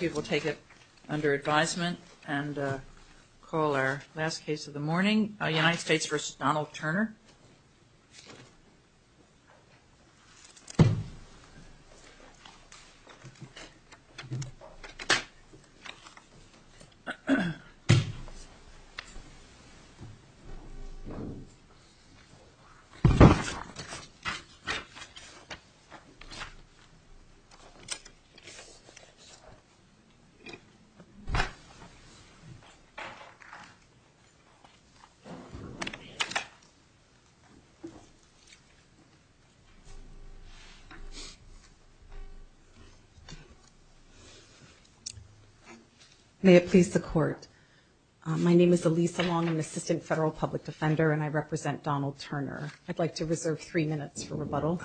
We will take it under advisement and call our last case of the morning. United States v. Donald Turner. May it please the court. My name is Elisa Long, an assistant federal public defender, and I represent Donald Turner. I'd like to reserve three minutes for rebuttal.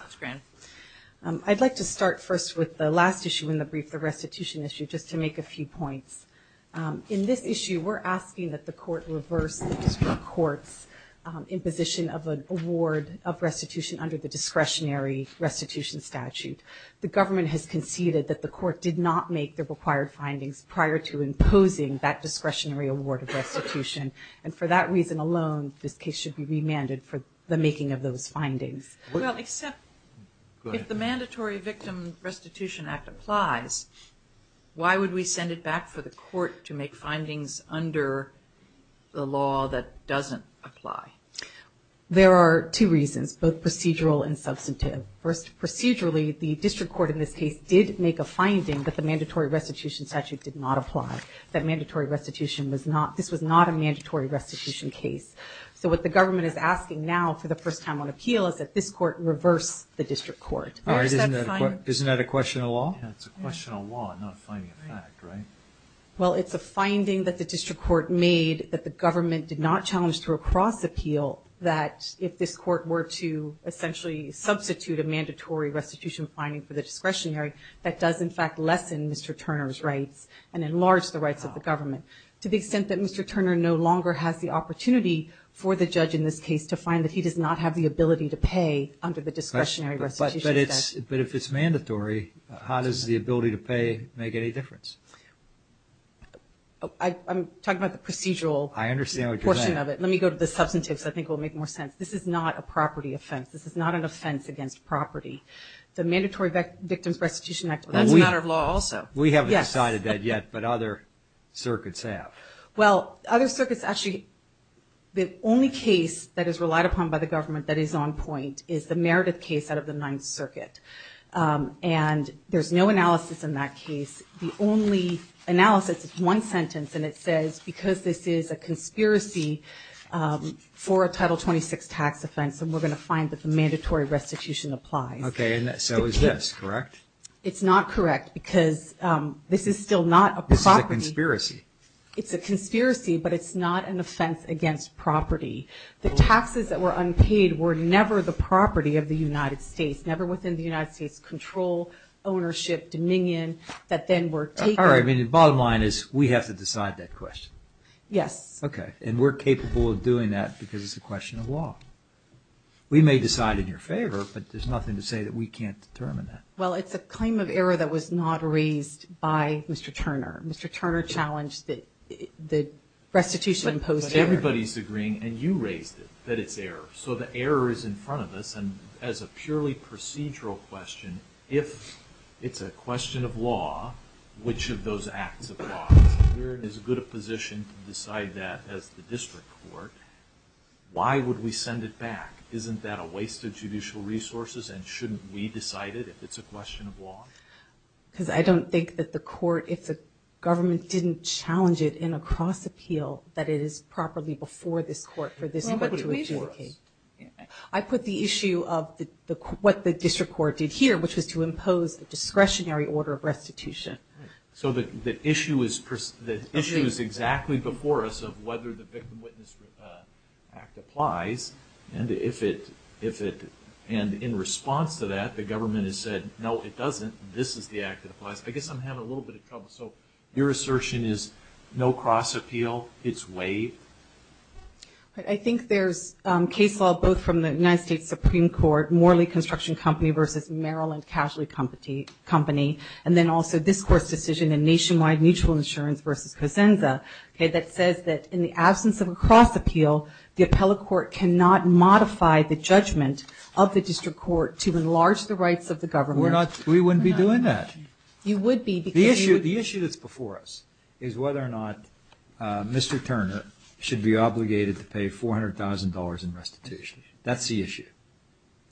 I'd like to start first with the last issue in the brief, the restitution issue, just to make a few points. In this issue, we're asking that the court reverse the district court's imposition of an award of restitution under the discretionary restitution statute. The government has conceded that the court did not make the required findings prior to imposing that discretionary award of restitution, and for that reason alone, this case should be remanded for the making of those findings. Well, except if the mandatory victim restitution act applies, why would we send it back for the court to make findings under the law that doesn't apply? There are two reasons, both procedural and substantive. First, procedurally, the district court in this case did make a finding that the mandatory restitution statute did not apply, that this was not a mandatory restitution case. So what the government is asking now, for the first time on appeal, is that this court reverse the district court. Isn't that a question of law? It's a question of law, not a finding of fact, right? Well, it's a finding that the district court made that the government did not challenge to recross appeal that if this court were to essentially substitute a mandatory restitution finding for the discretionary, that does in fact lessen Mr. Turner's rights and enlarge the rights of the government. To the extent that Mr. Turner no longer has the opportunity for the judge in this case to find that he does not have the ability to pay under the discretionary restitution statute. But if it's mandatory, how does the ability to pay make any difference? I'm talking about the procedural portion of it. I understand what you're saying. Let me go to the substantive because I think it will make more sense. This is not a property offense. This is not an offense against property. The mandatory victim restitution act applies. That's a matter of law also. We haven't decided that yet, but other circuits have. Well, other circuits actually, the only case that is relied upon by the government that is on point is the Meredith case out of the Ninth Circuit. And there's no analysis in that case. The only analysis is one sentence, and it says, because this is a conspiracy for a Title 26 tax offense, and we're going to find that the mandatory restitution applies. Okay. So is this correct? It's not correct because this is still not a property. This is a conspiracy. It's a conspiracy, but it's not an offense against property. The taxes that were unpaid were never the property of the United States, never within the United States control, ownership, dominion, that then were taken. All right. Bottom line is we have to decide that question. Yes. Okay. And we're capable of doing that because it's a question of law. We may decide in your favor, but there's nothing to say that we can't determine that. Well, it's a claim of error that was not raised by Mr. Turner. Mr. Turner challenged that the restitution imposed error. Everybody's agreeing, and you raised it, that it's error. So the error is in front of us, and as a purely procedural question, if it's a question of law, which of those acts of law? We're in as good a position to decide that as the district court. Why would we send it back? Isn't that a waste of judicial resources, and shouldn't we decide it if it's a question of law? Because I don't think that the court, if the government didn't challenge it in a cross appeal, that it is properly before this court for this court to adjudicate. I put the issue of what the district court did here, which was to impose a discretionary order of restitution. So the issue is exactly before us of whether the Victim Witness Act applies. And in response to that, the government has said, no, it doesn't. This is the act that applies. I guess I'm having a little bit of trouble. So your assertion is no cross appeal? It's waived? I think there's case law both from the United States Supreme Court, Morley Construction Company versus Maryland Casualty Company, and then also this court's decision in Nationwide Mutual Insurance versus Cosenza that says that in the absence of a cross appeal, the appellate court cannot modify the judgment of the district court to enlarge the rights of the government. We wouldn't be doing that. You would be. The issue that's before us is whether or not Mr. Turner should be obligated to pay $400,000 in restitution. That's the issue.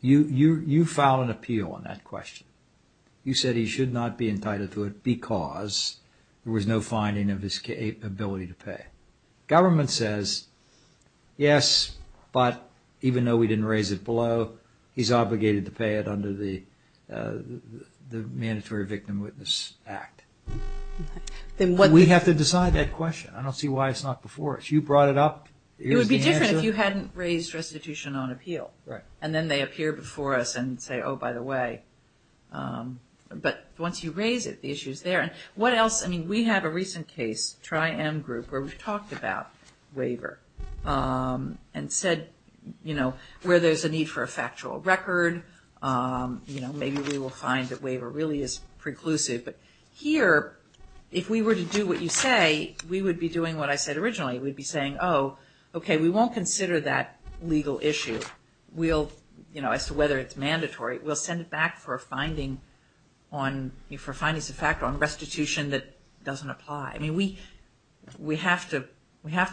You filed an appeal on that question. You said he should not be entitled to it because there was no finding of his capability to pay. Government says, yes, but even though we didn't raise it below, he's obligated to pay it under the Mandatory Victim Witness Act. We have to decide that question. I don't see why it's not before us. You brought it up. It would be different if you hadn't raised restitution on appeal. Right. And then they appear before us and say, oh, by the way. But once you raise it, the issue's there. And what else? I mean, we have a recent case, Tri-M Group, where we've talked about waiver and said, you know, where there's a need for a factual record, you know, maybe we will find that waiver really is preclusive. But here, if we were to do what you say, we would be doing what I said originally. We'd be saying, oh, okay, we won't consider that legal issue. We'll, you know, as to whether it's mandatory, we'll send it back for a finding on restitution that doesn't apply. I mean, we have to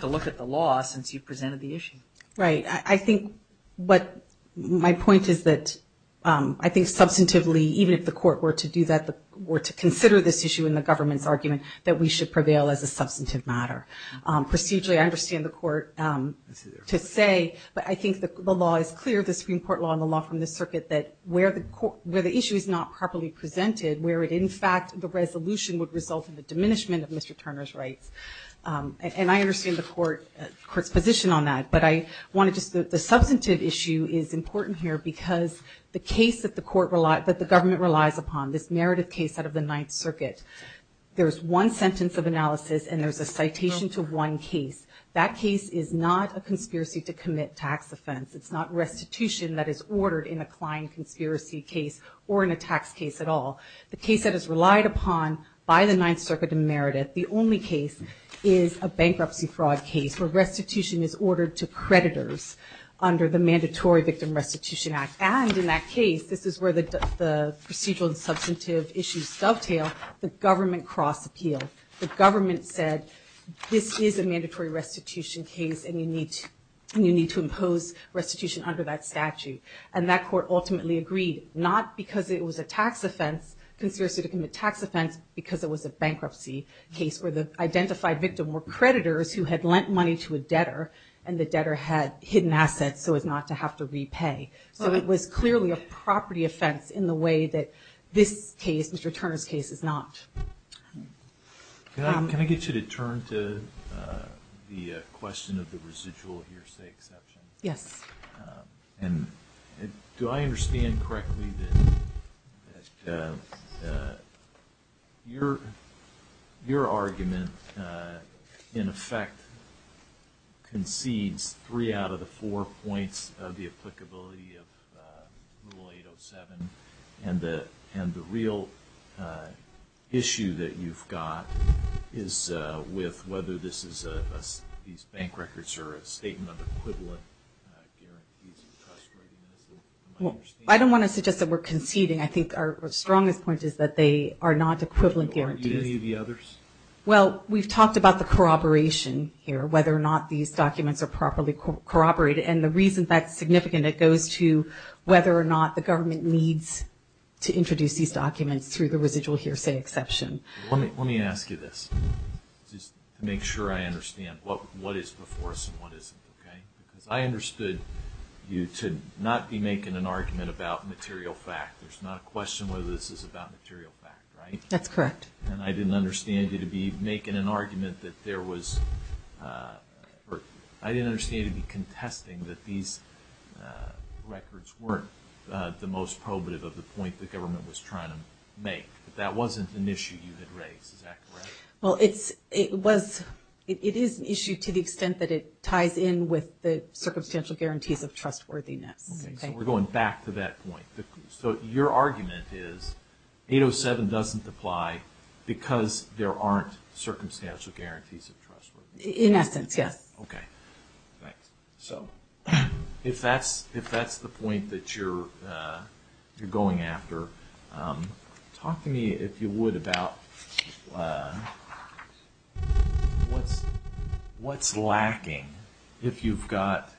look at the law since you presented the issue. Right. I think what my point is that I think substantively, even if the court were to do that, were to consider this issue in the government's argument, that we should prevail as a substantive matter. Procedurally, I understand the court to say, but I think the law is clear, the Supreme Court law and the law from the circuit, that where the issue is not properly presented, where it in fact the resolution would result in the diminishment of Mr. Turner's rights. And I understand the court's position on that. But I want to just, the substantive issue is important here because the case that the court relies, that the government relies upon, this narrative case out of the Ninth Circuit, there's one sentence of analysis and there's a citation to one case. That case is not a conspiracy to commit tax offense. It's not restitution that is ordered in a client conspiracy case or in a tax case at all. The case that is relied upon by the Ninth Circuit and Meredith, the only case is a bankruptcy fraud case where restitution is ordered to creditors under the Mandatory Victim Restitution Act. And in that case, this is where the procedural and substantive issues dovetail, the government cross-appealed. The government said, this is a mandatory restitution case and you need to impose restitution under that statute. And that court ultimately agreed, not because it was a tax offense, conspiracy to commit tax offense, because it was a bankruptcy case where the identified victim were creditors who had lent money to a debtor and the debtor had hidden assets so as not to have to repay. So it was clearly a property offense in the way that this case, Mr. Turner's case, is not. Can I get you to turn to the question of the residual hearsay exception? Yes. Do I understand correctly that your argument, in effect, concedes three out of the four points of the applicability of Rule 807 and the real issue that you've got is with whether these bank records are a statement of equivalent guarantees of trustworthiness? I don't want to suggest that we're conceding. I think our strongest point is that they are not equivalent guarantees. Or any of the others? Well, we've talked about the corroboration here, whether or not these documents are properly corroborated. And the reason that's significant, it goes to whether or not the government needs to introduce these documents through the residual hearsay exception. Let me ask you this just to make sure I understand what is before us and what isn't, okay? Because I understood you to not be making an argument about material fact. There's not a question whether this is about material fact, right? That's correct. And I didn't understand you to be making an argument that there was – I didn't understand you to be contesting that these records weren't the most probative of the point the government was trying to make. That wasn't an issue you had raised. Is that correct? Well, it is an issue to the extent that it ties in with the circumstantial guarantees of trustworthiness. Okay. So we're going back to that point. So your argument is 807 doesn't apply because there aren't circumstantial guarantees of trustworthiness. In essence, yes. Okay. Thanks. So if that's the point that you're going after, talk to me, if you would, about what's lacking if you've got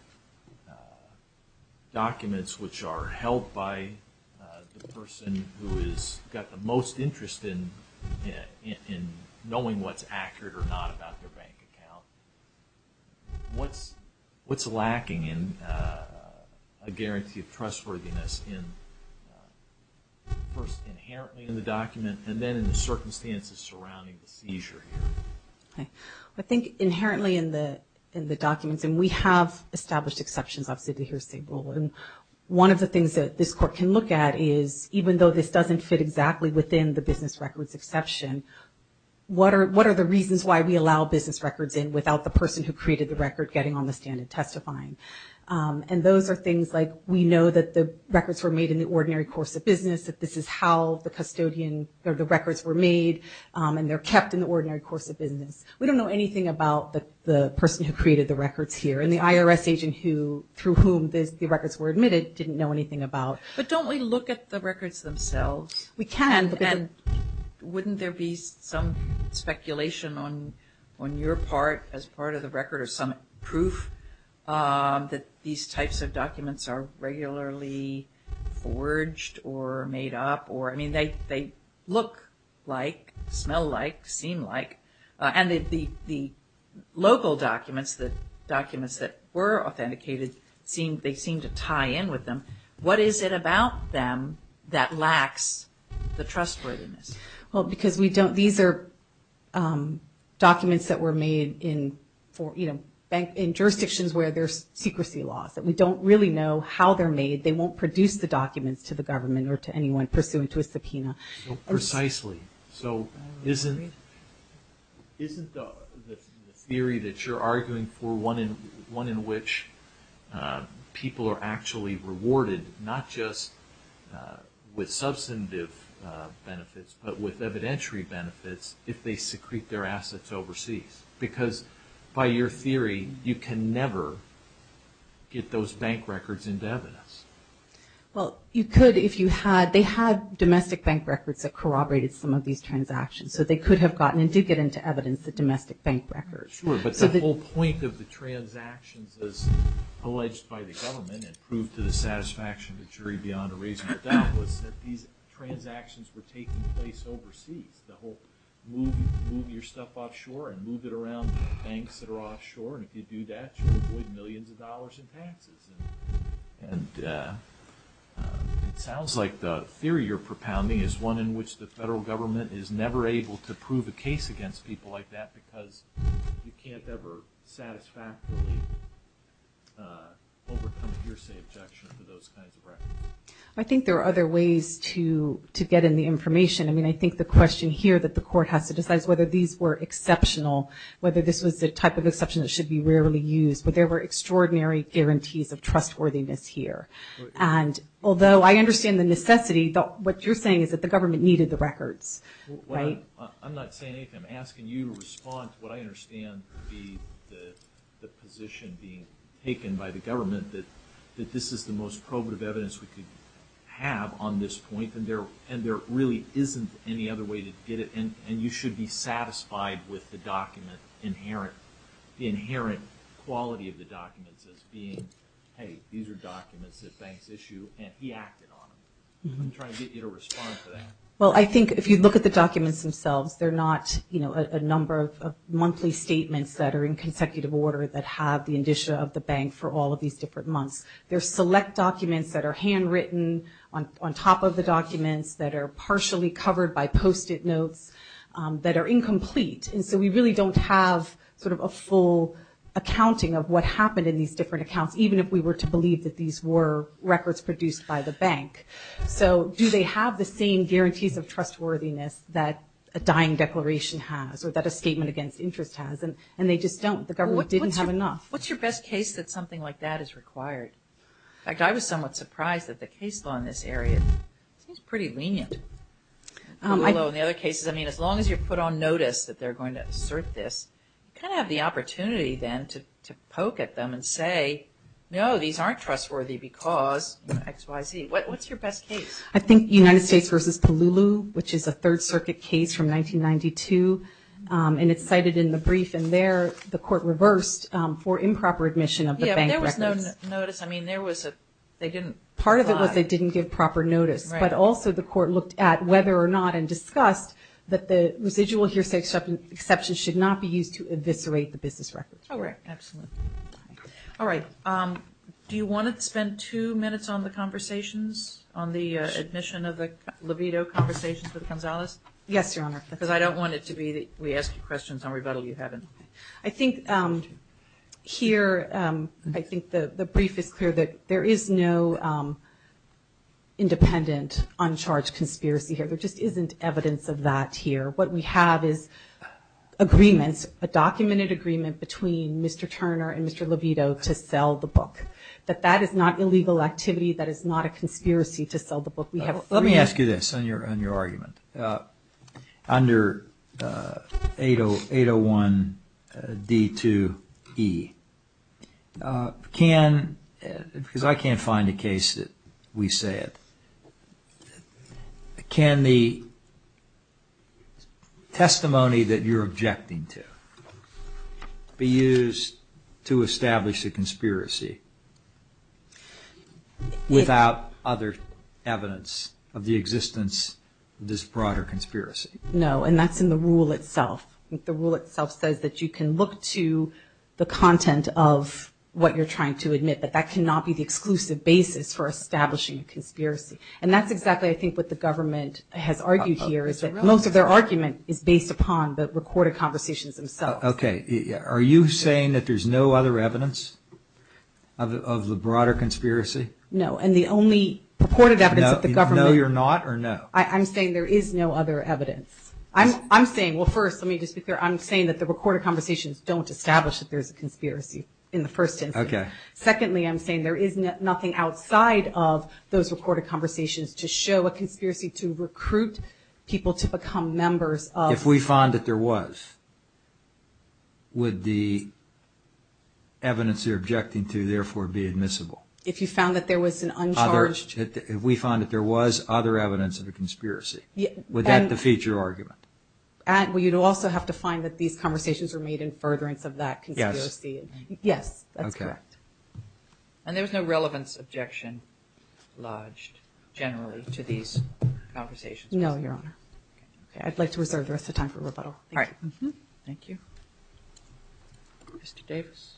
documents which are held by the person who has got the most interest in knowing what's accurate or not about their bank account. What's lacking in a guarantee of trustworthiness in first inherently in the document and then in the circumstances surrounding the seizure here? Okay. I think inherently in the documents, and we have established exceptions obviously to hearsay rule, and one of the things that this Court can look at is even though this doesn't fit exactly within the business records exception, what are the reasons why we allow business records in without the person who created the record getting on the stand and testifying? And those are things like we know that the records were made in the ordinary course of business, that this is how the records were made and they're kept in the ordinary course of business. We don't know anything about the person who created the records here and the IRS agent through whom the records were admitted didn't know anything about. But don't we look at the records themselves? We can. And wouldn't there be some speculation on your part as part of the record or some proof that these types of documents are regularly forged or made up? I mean, they look like, smell like, seem like, and the local documents, the documents that were authenticated, they seem to tie in with them. What is it about them that lacks the trustworthiness? Well, because these are documents that were made in jurisdictions where there's secrecy laws. We don't really know how they're made. They won't produce the documents to the government or to anyone pursuant to a subpoena. Precisely. So isn't the theory that you're arguing for one in which people are actually rewarded not just with substantive benefits but with evidentiary benefits if they secrete their assets overseas? Because by your theory, you can never get those bank records into evidence. Well, you could if you had. They had domestic bank records that corroborated some of these transactions. So they could have gotten and did get into evidence the domestic bank records. Sure, but the whole point of the transactions as alleged by the government and proved to the satisfaction of the jury beyond a reasonable doubt was that these transactions were taking place overseas. The whole move your stuff offshore and move it around banks that are offshore, and if you do that, you'll avoid millions of dollars in taxes. And it sounds like the theory you're propounding is one in which the federal government is never able to prove a case against people like that because you can't ever satisfactorily overcome hearsay objection to those kinds of records. I think there are other ways to get in the information. I mean, I think the question here that the court has to decide is whether these were exceptional, whether this was the type of exception that should be rarely used. But there were extraordinary guarantees of trustworthiness here. And although I understand the necessity, what you're saying is that the government needed the records, right? I'm not saying anything. I'm asking you to respond to what I understand to be the position being taken by the government that this is the most probative evidence we could have on this point, and there really isn't any other way to get it. And you should be satisfied with the document, the inherent quality of the documents as being, hey, these are documents that banks issue, and he acted on them. I'm trying to get you to respond to that. Well, I think if you look at the documents themselves, they're not a number of monthly statements that are in consecutive order that have the indicia of the bank for all of these different months. They're select documents that are handwritten on top of the documents that are partially covered by Post-it notes that are incomplete. And so we really don't have sort of a full accounting of what happened in these different accounts, even if we were to believe that these were records produced by the bank. So do they have the same guarantees of trustworthiness that a dying declaration has or that a statement against interest has? And they just don't. The government didn't have enough. Well, what's your best case that something like that is required? In fact, I was somewhat surprised that the case law in this area seems pretty lenient. Although in the other cases, I mean, as long as you put on notice that they're going to assert this, you kind of have the opportunity then to poke at them and say, no, these aren't trustworthy because X, Y, Z. What's your best case? I think United States v. Palulu, which is a Third Circuit case from 1992, and it's cited in the brief. And there the court reversed for improper admission of the bank records. Yeah, but there was no notice. I mean, there was a – they didn't apply. Part of it was they didn't give proper notice. Right. But also the court looked at whether or not and discussed that the residual hearsay exception should not be used to eviscerate the business records. All right. Absolutely. All right. Do you want to spend two minutes on the conversations, on the admission of the libido conversations with Gonzalez? Yes, Your Honor. Because I don't want it to be that we ask you questions and rebuttal you haven't. I think here, I think the brief is clear that there is no independent, uncharged conspiracy here. There just isn't evidence of that here. What we have is agreements, a documented agreement between Mr. Turner and Mr. Libido to sell the book, that that is not illegal activity, that is not a conspiracy to sell the book. Let me ask you this on your argument. Under 801D2E, can, because I can't find a case that we say it, can the testimony that you're objecting to be used to establish a conspiracy without other evidence of the existence of this broader conspiracy? No, and that's in the rule itself. The rule itself says that you can look to the content of what you're trying to admit, but that cannot be the exclusive basis for establishing a conspiracy. And that's exactly, I think, what the government has argued here, is that most of their argument is based upon the recorded conversations themselves. Okay. Are you saying that there's no other evidence of the broader conspiracy? No. And the only purported evidence that the government... No you're not or no? I'm saying there is no other evidence. I'm saying, well, first, let me just be clear, I'm saying that the recorded conversations don't establish that there's a conspiracy in the first instance. Okay. Secondly, I'm saying there is nothing outside of those recorded conversations to show a conspiracy to recruit people to become members of... If we found that there was, would the evidence you're objecting to therefore be admissible? If you found that there was an uncharged... If we found that there was other evidence of a conspiracy, would that defeat your argument? Well, you'd also have to find that these conversations were made in furtherance of that conspiracy. Yes. Yes, that's correct. Okay. And there was no relevance objection lodged generally to these conversations? No, Your Honor. Okay. I'd like to reserve the rest of the time for rebuttal. All right. Thank you. Mr. Davis.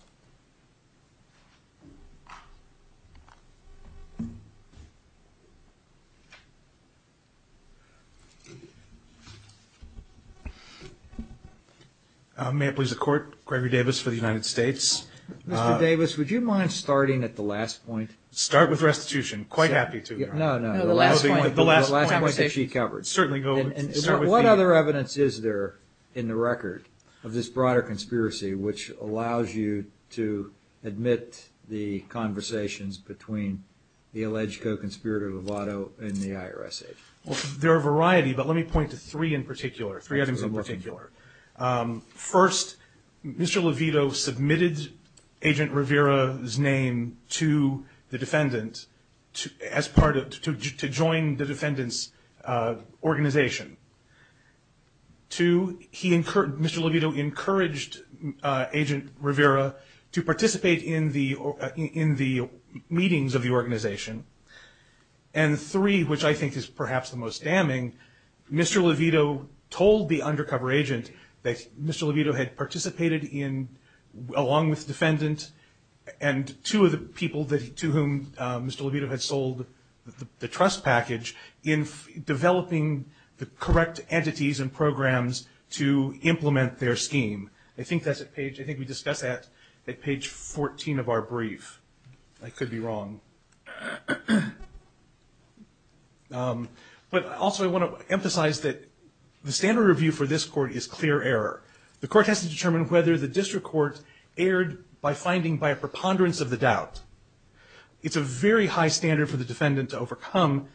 May it please the Court, Gregory Davis for the United States. Mr. Davis, would you mind starting at the last point? Start with restitution. Quite happy to. No, no. The last point. The last point that she covered. Certainly. What other evidence is there in the record of this broader conspiracy which allows you to admit the conversations between the alleged co-conspirator Lovato and the IRS agent? Well, there are a variety, but let me point to three in particular, three items in particular. First, Mr. Lovato submitted Agent Rivera's name to the defendant to join the defendant's organization. Two, Mr. Lovato encouraged Agent Rivera to participate in the meetings of the organization. And three, which I think is perhaps the most damning, Mr. Lovato told the undercover agent that Mr. Lovato had participated in, along with the defendant and two of the people to whom Mr. Lovato had sold the trust package, in developing the correct entities and programs to implement their scheme. I think that's at page, I think we discussed that at page 14 of our brief. I could be wrong. But also I want to emphasize that the standard review for this Court is clear error. The Court has to determine whether the district court erred by finding by a preponderance of the doubt. It's a very high standard for the defendant to overcome,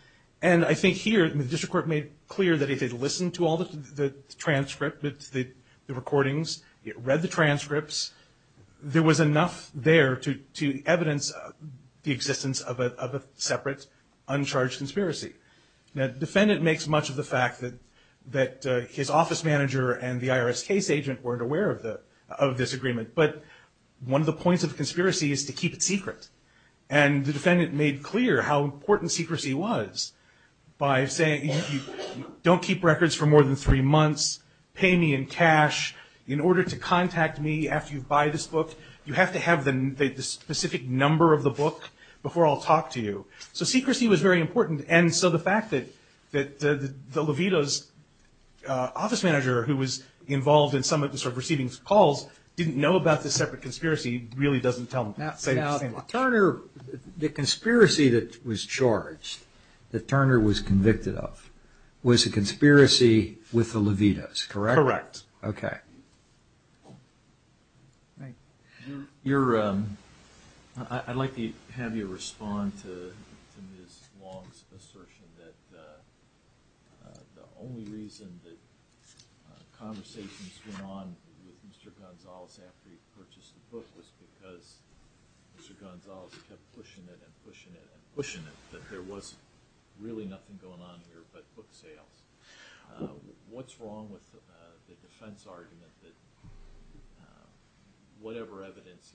and I think here the district court made clear that it had listened to all the transcript, the recordings, it read the transcripts. There was enough there to evidence the existence of a separate, uncharged conspiracy. Now, the defendant makes much of the fact that his office manager and the IRS case agent weren't aware of this agreement, but one of the points of the conspiracy is to keep it secret. And the defendant made clear how important secrecy was by saying, don't keep records for more than three months, pay me in cash. In order to contact me after you buy this book, you have to have the specific number of the book before I'll talk to you. So secrecy was very important. And so the fact that the Levitos office manager, who was involved in some of the receiving calls, didn't know about this separate conspiracy really doesn't tell him. The conspiracy that was charged, that Turner was convicted of, was a conspiracy with the Levitos, correct? Correct. Okay. Right. I'd like to have you respond to Ms. Long's assertion that the only reason that conversations went on with Mr. Gonzales after he purchased the book was because Mr. Gonzales kept pushing it and pushing it and pushing it, that there was really nothing going on here but book sales. What's wrong with the defense argument that whatever evidence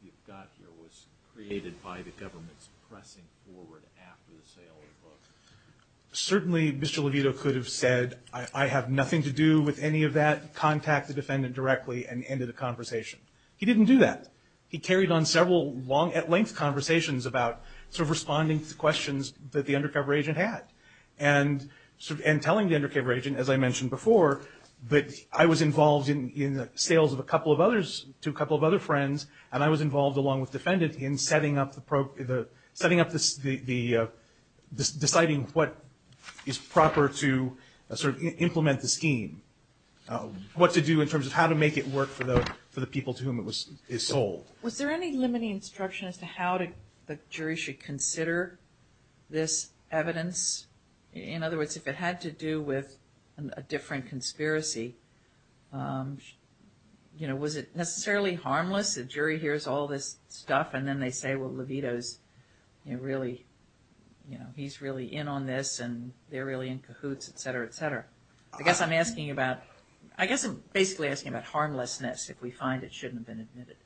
you've got here was created by the government's pressing forward after the sale of the book? Certainly Mr. Levitos could have said, I have nothing to do with any of that, contact the defendant directly, and ended the conversation. He didn't do that. He carried on several long at length conversations about sort of responding to questions that the undercover agent had. And telling the undercover agent, as I mentioned before, that I was involved in the sales of a couple of others to a couple of other friends, and I was involved along with the defendant in setting up the, deciding what is proper to sort of implement the scheme. What to do in terms of how to make it work for the people to whom it was sold. Was there any limiting instruction as to how the jury should consider this In other words, if it had to do with a different conspiracy, was it necessarily harmless? The jury hears all this stuff and then they say, well, Levitos, he's really in on this and they're really in cahoots, et cetera, et cetera. I guess I'm asking about, I guess I'm basically asking about harmlessness, if we find it shouldn't have been admitted.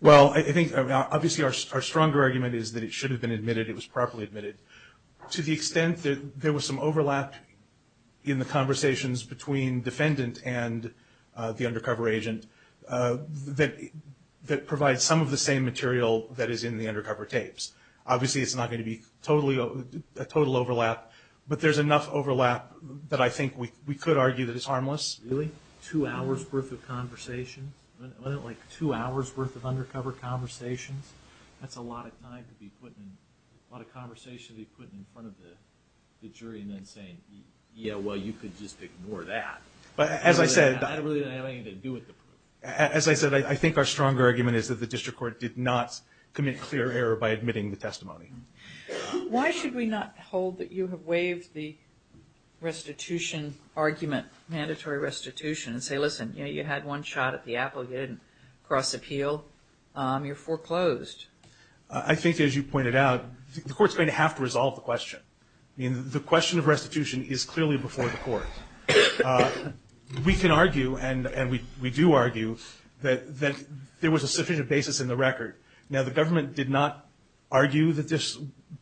Well, I think obviously our stronger argument is that it should have been admitted, it was properly admitted. To the extent that there was some overlap in the conversations between defendant and the undercover agent that provides some of the same material that is in the undercover tapes. Obviously it's not going to be a total overlap, but there's enough overlap that I think we could argue that it's harmless. Really? Two hours' worth of conversations? Wasn't it like two hours' worth of undercover conversations? That's a lot of time to be putting, a lot of conversation to be putting in front of the jury and then saying, yeah, well, you could just ignore that. As I said. That really didn't have anything to do with the proof. As I said, I think our stronger argument is that the district court did not commit clear error by admitting the testimony. Why should we not hold that you have waived the restitution argument, mandatory restitution, and say, listen, you had one shot at the apple, you didn't cross appeal. You're foreclosed. I think, as you pointed out, the court's going to have to resolve the question. The question of restitution is clearly before the court. We can argue, and we do argue, that there was a sufficient basis in the record. Now, the government did not argue that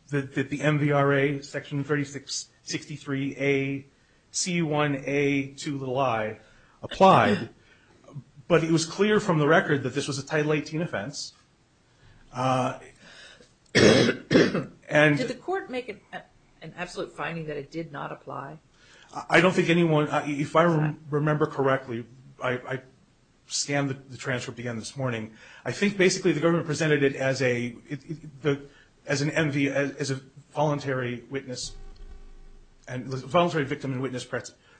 the MVRA, section 3663A, C1A2i, applied, but it was clear from the record that this was a Title 18 offense. Did the court make an absolute finding that it did not apply? I don't think anyone, if I remember correctly, I scanned the transcript again this morning, I think basically the government presented it as an MV, as a voluntary witness, voluntary victim and witness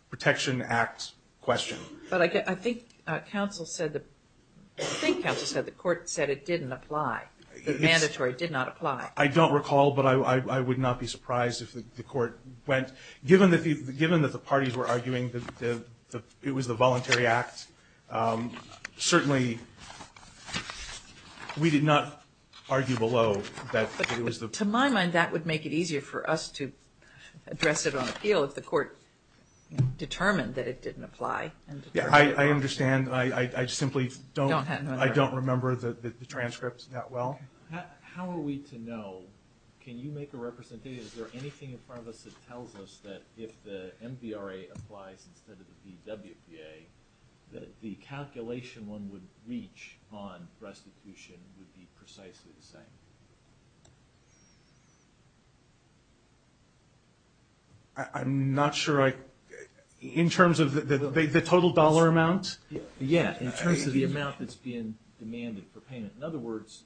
protection act question. But I think counsel said, I think counsel said the court said it didn't apply, that mandatory did not apply. I don't recall, but I would not be surprised if the court went, given that the parties were arguing that it was the voluntary act, certainly we did not argue below that it was the. To my mind, that would make it easier for us to address it on appeal if the court determined that it didn't apply. I understand. I simply don't remember the transcript that well. How are we to know, can you make a representation, is there anything in front of us that tells us that if the MVRA applies instead of the VWPA, that the calculation one would reach on restitution would be precisely the same? I'm not sure, in terms of the total dollar amount? Yeah, in terms of the amount that's being demanded for payment. In other words,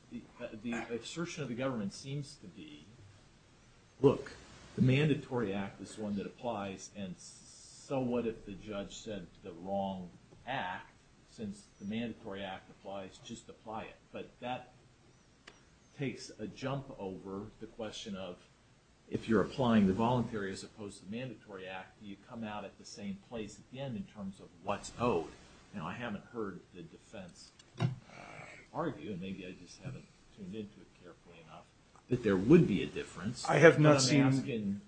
the assertion of the government seems to be, look, the mandatory act is the one that applies and so what if the judge said the wrong act, since the mandatory act applies, just apply it. But that takes a jump over the question of, if you're applying the voluntary as opposed to the mandatory act, do you come out at the same place at the end in terms of what's owed? I haven't heard the defense argue, and maybe I just haven't tuned into it carefully enough, that there would be a difference. I have not seen...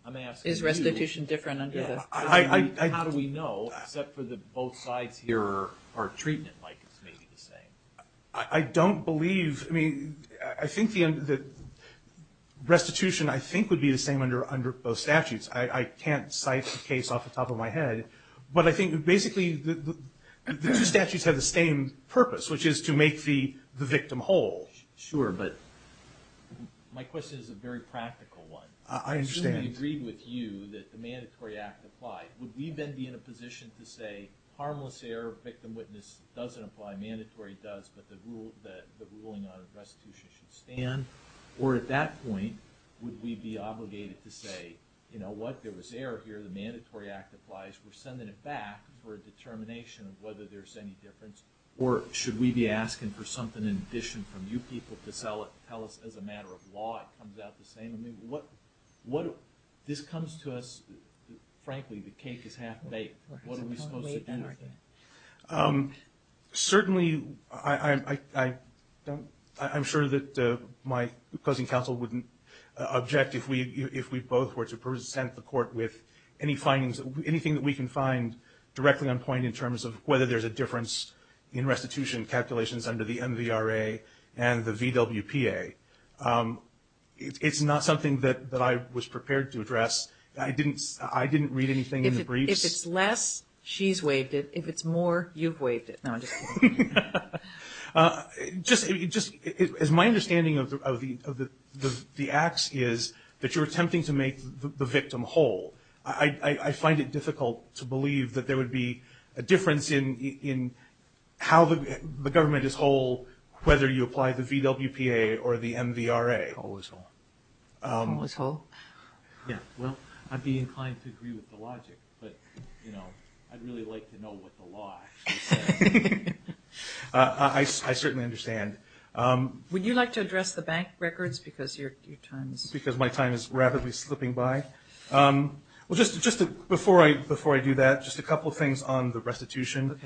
I'm asking you. Is restitution different under the... How do we know, except for that both sides here are treating it like it's maybe the same? I don't believe, I mean, I think the restitution, I think, would be the same under both statutes. I can't cite the case off the top of my head, but I think basically the two statutes have the same purpose, which is to make the victim whole. Sure, but my question is a very practical one. I understand. Assuming we agreed with you that the mandatory act applied, would we then be in a position to say, harmless error, victim witness doesn't apply, mandatory does, but the ruling on restitution should stand? Or at that point, would we be obligated to say, you know what, there was error here, the mandatory act applies, we're sending it back for a determination of whether there's any difference, or should we be asking for something in addition from you people to tell us as a matter of law it comes out the same? I mean, this comes to us, frankly, the cake is half baked. What are we supposed to do with it? Certainly, I'm sure that my cousin counsel wouldn't object if we both were to present the court with any findings, anything that we can find directly on point in terms of whether there's a difference in restitution calculations under the MVRA and the VWPA. It's not something that I was prepared to address. I didn't read anything in the briefs. If it's less, she's waived it. If it's more, you've waived it. No, I'm just kidding. Just as my understanding of the acts is that you're attempting to make the victim whole. I find it difficult to believe that there would be a difference in how the government is whole, whether you apply the VWPA or the MVRA. Whole is whole. Whole is whole? Yeah, well, I'd be inclined to agree with the logic, but I'd really like to know what the law is saying. I certainly understand. Would you like to address the bank records because your time is... Well, just before I do that, just a couple of things on the restitution.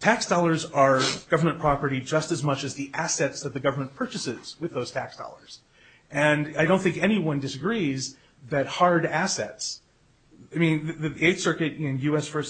Tax dollars are government property just as much as the assets that the government purchases with those tax dollars. And I don't think anyone disagrees that hard assets, I mean, the Eighth Circuit in U.S. v.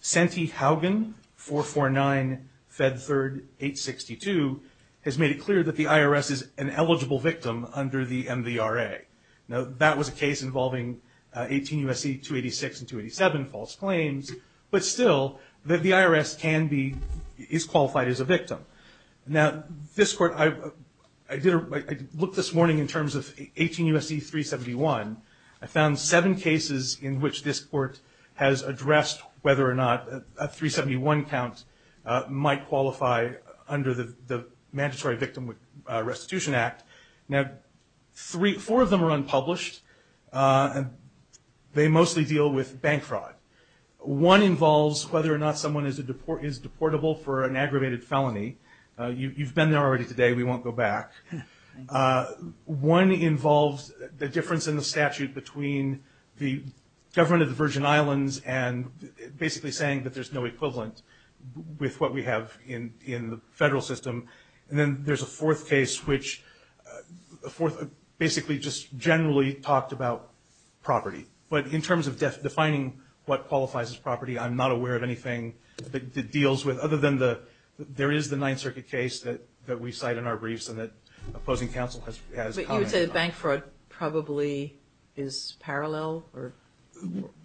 Santee Haugen, 449, Fed 3rd, 862, has made it clear that the IRS is an eligible victim under the MVRA. Now, that was a case involving 18 U.S.C. 286 and 287, false claims, but still the IRS is qualified as a victim. Now, this court, I looked this morning in terms of 18 U.S.C. 371. I found seven cases in which this court has addressed whether or not a 371 count might qualify under the Mandatory Victim Restitution Act. Now, four of them are unpublished. They mostly deal with bank fraud. One involves whether or not someone is deportable for an aggravated felony. You've been there already today. We won't go back. One involves the difference in the statute between the government of the Virgin Islands and basically saying that there's no equivalent with what we have in the federal system. And then there's a fourth case which basically just generally talked about property. But in terms of defining what qualifies as property, I'm not aware of anything that deals with, other than there is the Ninth Circuit case that we cite in our briefs and that opposing counsel has commented on. But you would say that bank fraud probably is parallel?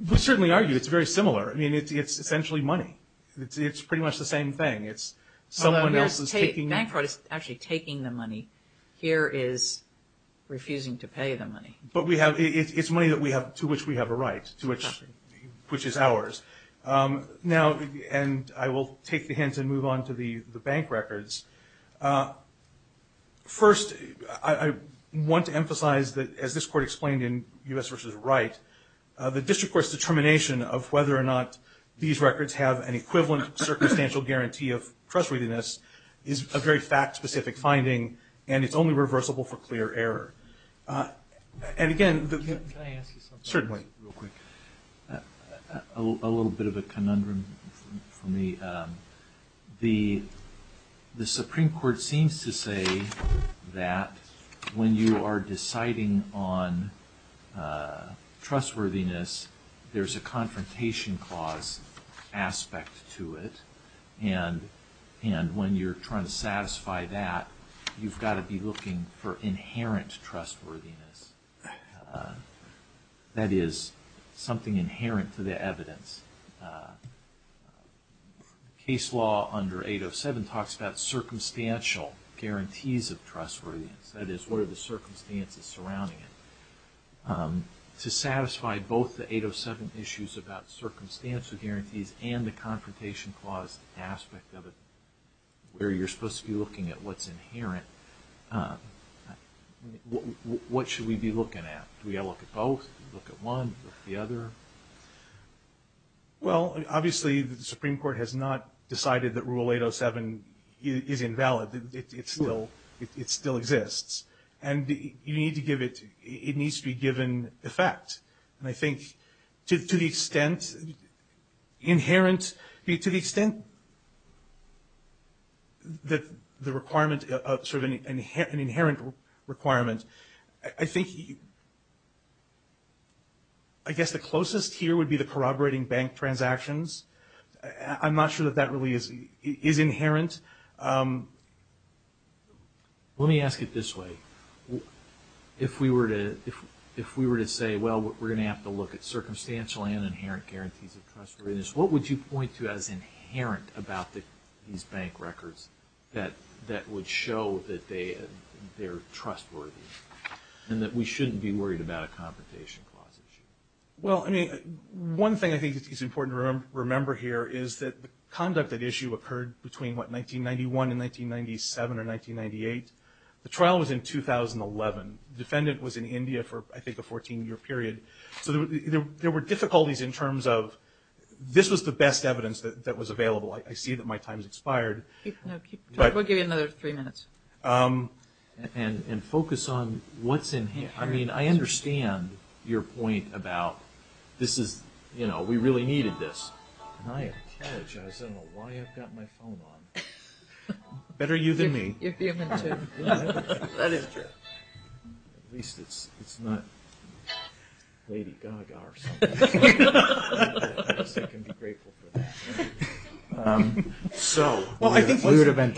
We certainly argue it's very similar. I mean, it's essentially money. It's pretty much the same thing. Bank fraud is actually taking the money. Here is refusing to pay the money. But it's money to which we have a right, which is ours. And I will take the hint and move on to the bank records. First, I want to emphasize that, as this Court explained in U.S. v. Wright, the district court's determination of whether or not these is a very fact-specific finding, and it's only reversible for clear error. And again, certainly. Can I ask you something real quick? A little bit of a conundrum for me. The Supreme Court seems to say that when you are deciding on trustworthiness, there's a confrontation clause aspect to it. And when you're trying to satisfy that, you've got to be looking for inherent trustworthiness. That is, something inherent to the evidence. Case law under 807 talks about circumstantial guarantees of trustworthiness. That is, what are the circumstances surrounding it? To satisfy both the 807 issues about circumstantial guarantees and the confrontation clause aspect of it, where you're supposed to be looking at what's inherent, what should we be looking at? Do we have to look at both? Look at one? Look at the other? Well, obviously, the Supreme Court has not decided that Rule 807 is invalid. It still exists. And you need to give it to you. It needs to be given effect. And I think to the extent inherent, to the extent that the requirement of sort of an inherent requirement, I think I guess the closest here would be the corroborating bank transactions. I'm not sure that that really is inherent. Let me ask it this way. If we were to say, well, we're going to have to look at circumstantial and inherent guarantees of trustworthiness, what would you point to as inherent about these bank records that would show that they're trustworthy and that we shouldn't be worried about a confrontation clause issue? Well, I mean, one thing I think is important to remember here is that the conduct at issue occurred between, what, 1991 and 1997 or 1998. The trial was in 2011. The defendant was in India for, I think, a 14-year period. So there were difficulties in terms of this was the best evidence that was available. I see that my time has expired. We'll give you another three minutes. And focus on what's inherent. I mean, I understand your point about this is, you know, we really needed this. And I apologize. I don't know why I've got my phone on. Better you than me. You're human, too. That is true. At least it's not Lady Gaga or something. I guess I can be grateful for that. So what's inherent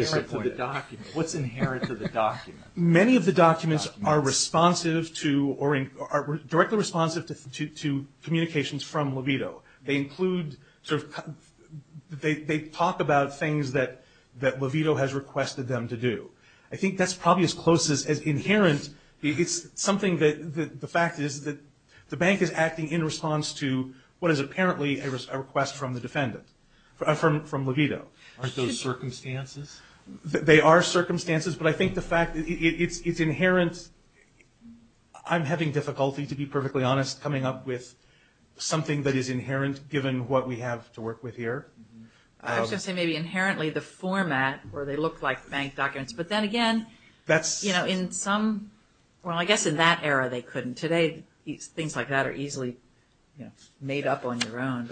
to the document? Many of the documents are responsive to or are directly responsive to communications from Levito. They include sort of they talk about things that Levito has requested them to do. I think that's probably as close as inherent. It's something that the fact is that the bank is acting in response to what is apparently a request from the defendant, from Levito. Aren't those circumstances? They are circumstances. But I think the fact it's inherent. I'm having difficulty, to be perfectly honest, coming up with something that is inherent given what we have to work with here. I was going to say maybe inherently the format where they look like bank documents. But then again, you know, in some – well, I guess in that era they couldn't. Today things like that are easily made up on your own.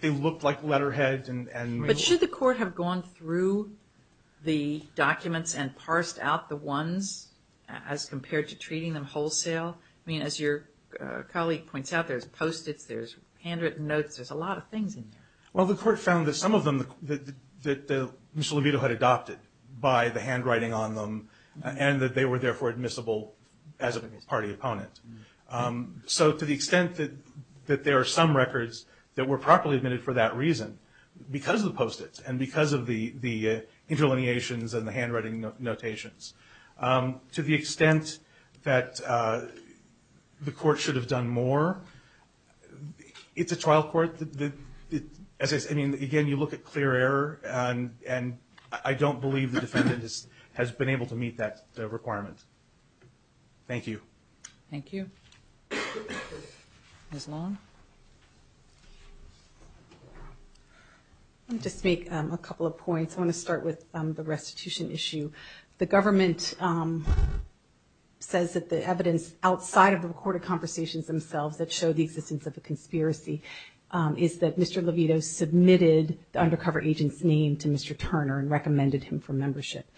They looked like letterhead and – But should the court have gone through the documents and parsed out the ones as compared to treating them wholesale? I mean, as your colleague points out, there's post-its, there's handwritten notes. There's a lot of things in there. Well, the court found that some of them that Mr. Levito had adopted by the handwriting on them and that they were therefore admissible as a party opponent. So to the extent that there are some records that were properly admitted for that reason because of the post-its and because of the interlineations and the handwriting notations, to the extent that the court should have done more, it's a trial court. I mean, again, you look at clear error, and I don't believe the defendant has been able to meet that requirement. Thank you. Thank you. Ms. Long? I'll just make a couple of points. I want to start with the restitution issue. The government says that the evidence outside of the recorded conversations themselves that show the existence of a conspiracy is that Mr. Levito submitted the undercover agent's name to Mr. Turner and recommended him for membership.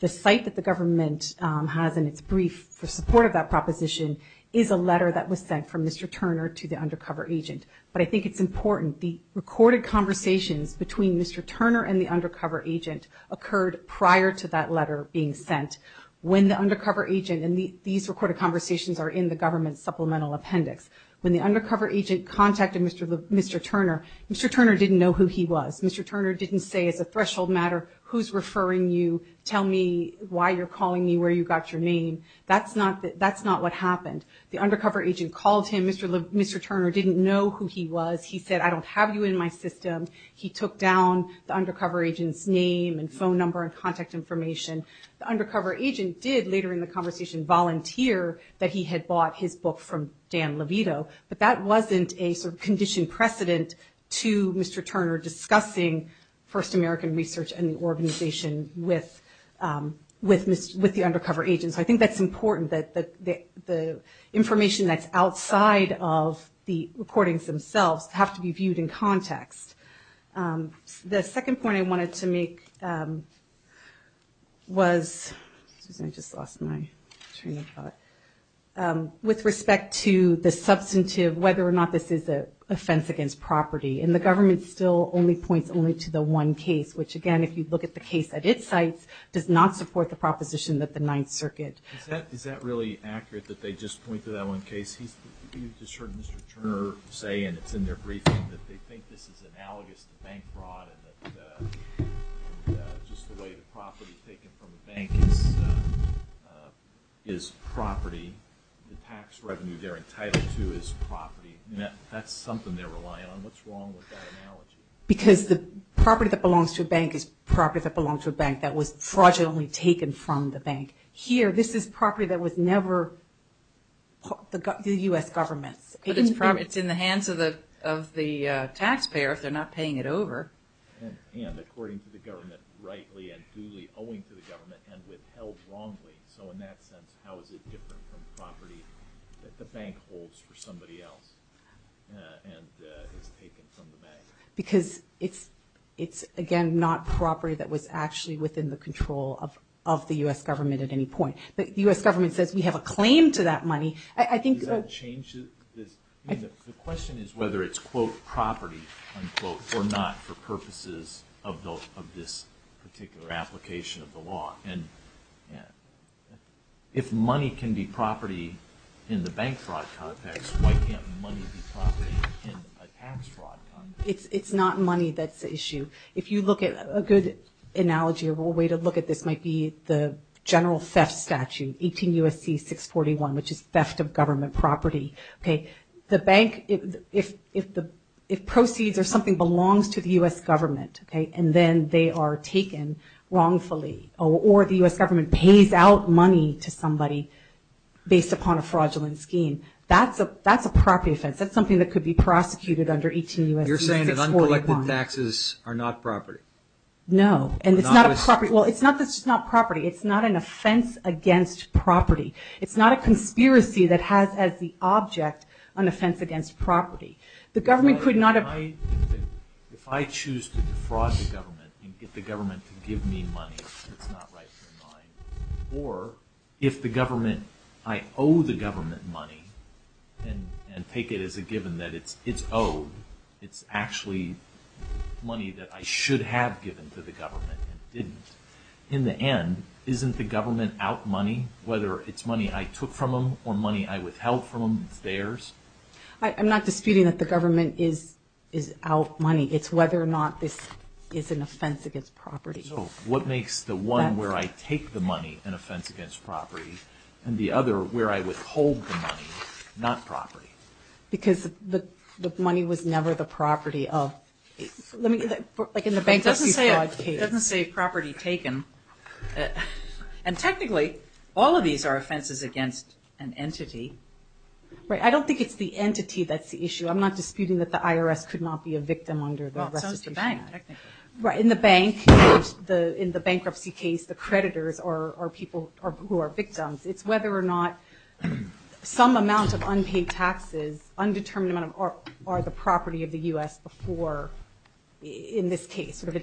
The site that the government has in its brief for support of that proposition is a letter that was sent from Mr. Turner to the undercover agent. But I think it's important. The recorded conversations between Mr. Turner and the undercover agent occurred prior to that letter being sent. When the undercover agent and these recorded conversations are in the government's supplemental appendix, when the undercover agent contacted Mr. Turner, Mr. Turner didn't know who he was. Mr. Turner didn't say as a threshold matter, who's referring you, tell me why you're calling me, where you got your name. That's not what happened. The undercover agent called him. Mr. Turner didn't know who he was. He said, I don't have you in my system. He took down the undercover agent's name and phone number and contact information. The undercover agent did, later in the conversation, volunteer that he had bought his book from Dan Levito. But that wasn't a sort of conditioned precedent to Mr. Turner discussing First American research and the organization with the undercover agent. So I think that's important, that the information that's outside of the recordings themselves have to be viewed in context. The second point I wanted to make was, excuse me, I just lost my train of thought, with respect to the substantive, whether or not this is an offense against property. And the government still only points only to the one case, which, again, if you look at the case at its sites, does not support the proposition that the Ninth Circuit. Is that really accurate, that they just point to that one case? You've just heard Mr. Turner say, and it's in their briefing, that they think this is analogous to bank fraud and that just the way the property taken from the bank is property, the tax revenue they're entitled to is property. That's something they're relying on. What's wrong with that analogy? Because the property that belongs to a bank is property that belongs to a bank that was fraudulently taken from the bank. Here, this is property that was never the U.S. government's. But it's in the hands of the taxpayer if they're not paying it over. And according to the government, rightly and duly owing to the government and withheld wrongly, so in that sense, how is it different from property that the bank holds for somebody else and is taken from the bank? Because it's, again, not property that was actually within the control of the U.S. government at any point. The U.S. government says we have a claim to that money. Does that change this? The question is whether it's, quote, property, unquote, or not for purposes of this particular application of the law. And if money can be property in the bank fraud context, why can't money be property in a tax fraud context? It's not money that's the issue. If you look at a good analogy or a way to look at this might be the general theft statute, 18 U.S.C. 641, which is theft of government property. The bank, if proceeds or something belongs to the U.S. government and then they are taken wrongfully, or the U.S. government pays out money to somebody based upon a fraudulent scheme, that's a property offense. That's something that could be prosecuted under 18 U.S.C. 641. You're saying that uncollected taxes are not property? No, and it's not a property. Well, it's not that it's not property. It's not an offense against property. It's not a conspiracy that has as the object an offense against property. The government could not have- If I choose to defraud the government and get the government to give me money, it's not rightfully mine. Or if the government, I owe the government money and take it as a given that it's owed, it's actually money that I should have given to the government and didn't. In the end, isn't the government out money? Whether it's money I took from them or money I withheld from them, it's theirs. I'm not disputing that the government is out money. It's whether or not this is an offense against property. So what makes the one where I take the money an offense against property and the other where I withhold the money not property? Because the money was never the property of- It doesn't say property taken. And technically, all of these are offenses against an entity. I don't think it's the entity that's the issue. I'm not disputing that the IRS could not be a victim under the restitution act. In the bankruptcy case, the creditors are people who are victims. It's whether or not some amount of unpaid taxes, undetermined amount are the property of the U.S. before, in this case, sort of as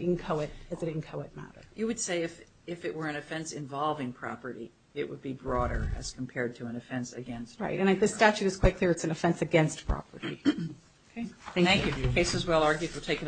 an inchoate matter. You would say if it were an offense involving property, it would be broader as compared to an offense against property. Right, and the statute is quite clear. It's an offense against property. Okay, thank you. Case is well argued. We'll take it under the table.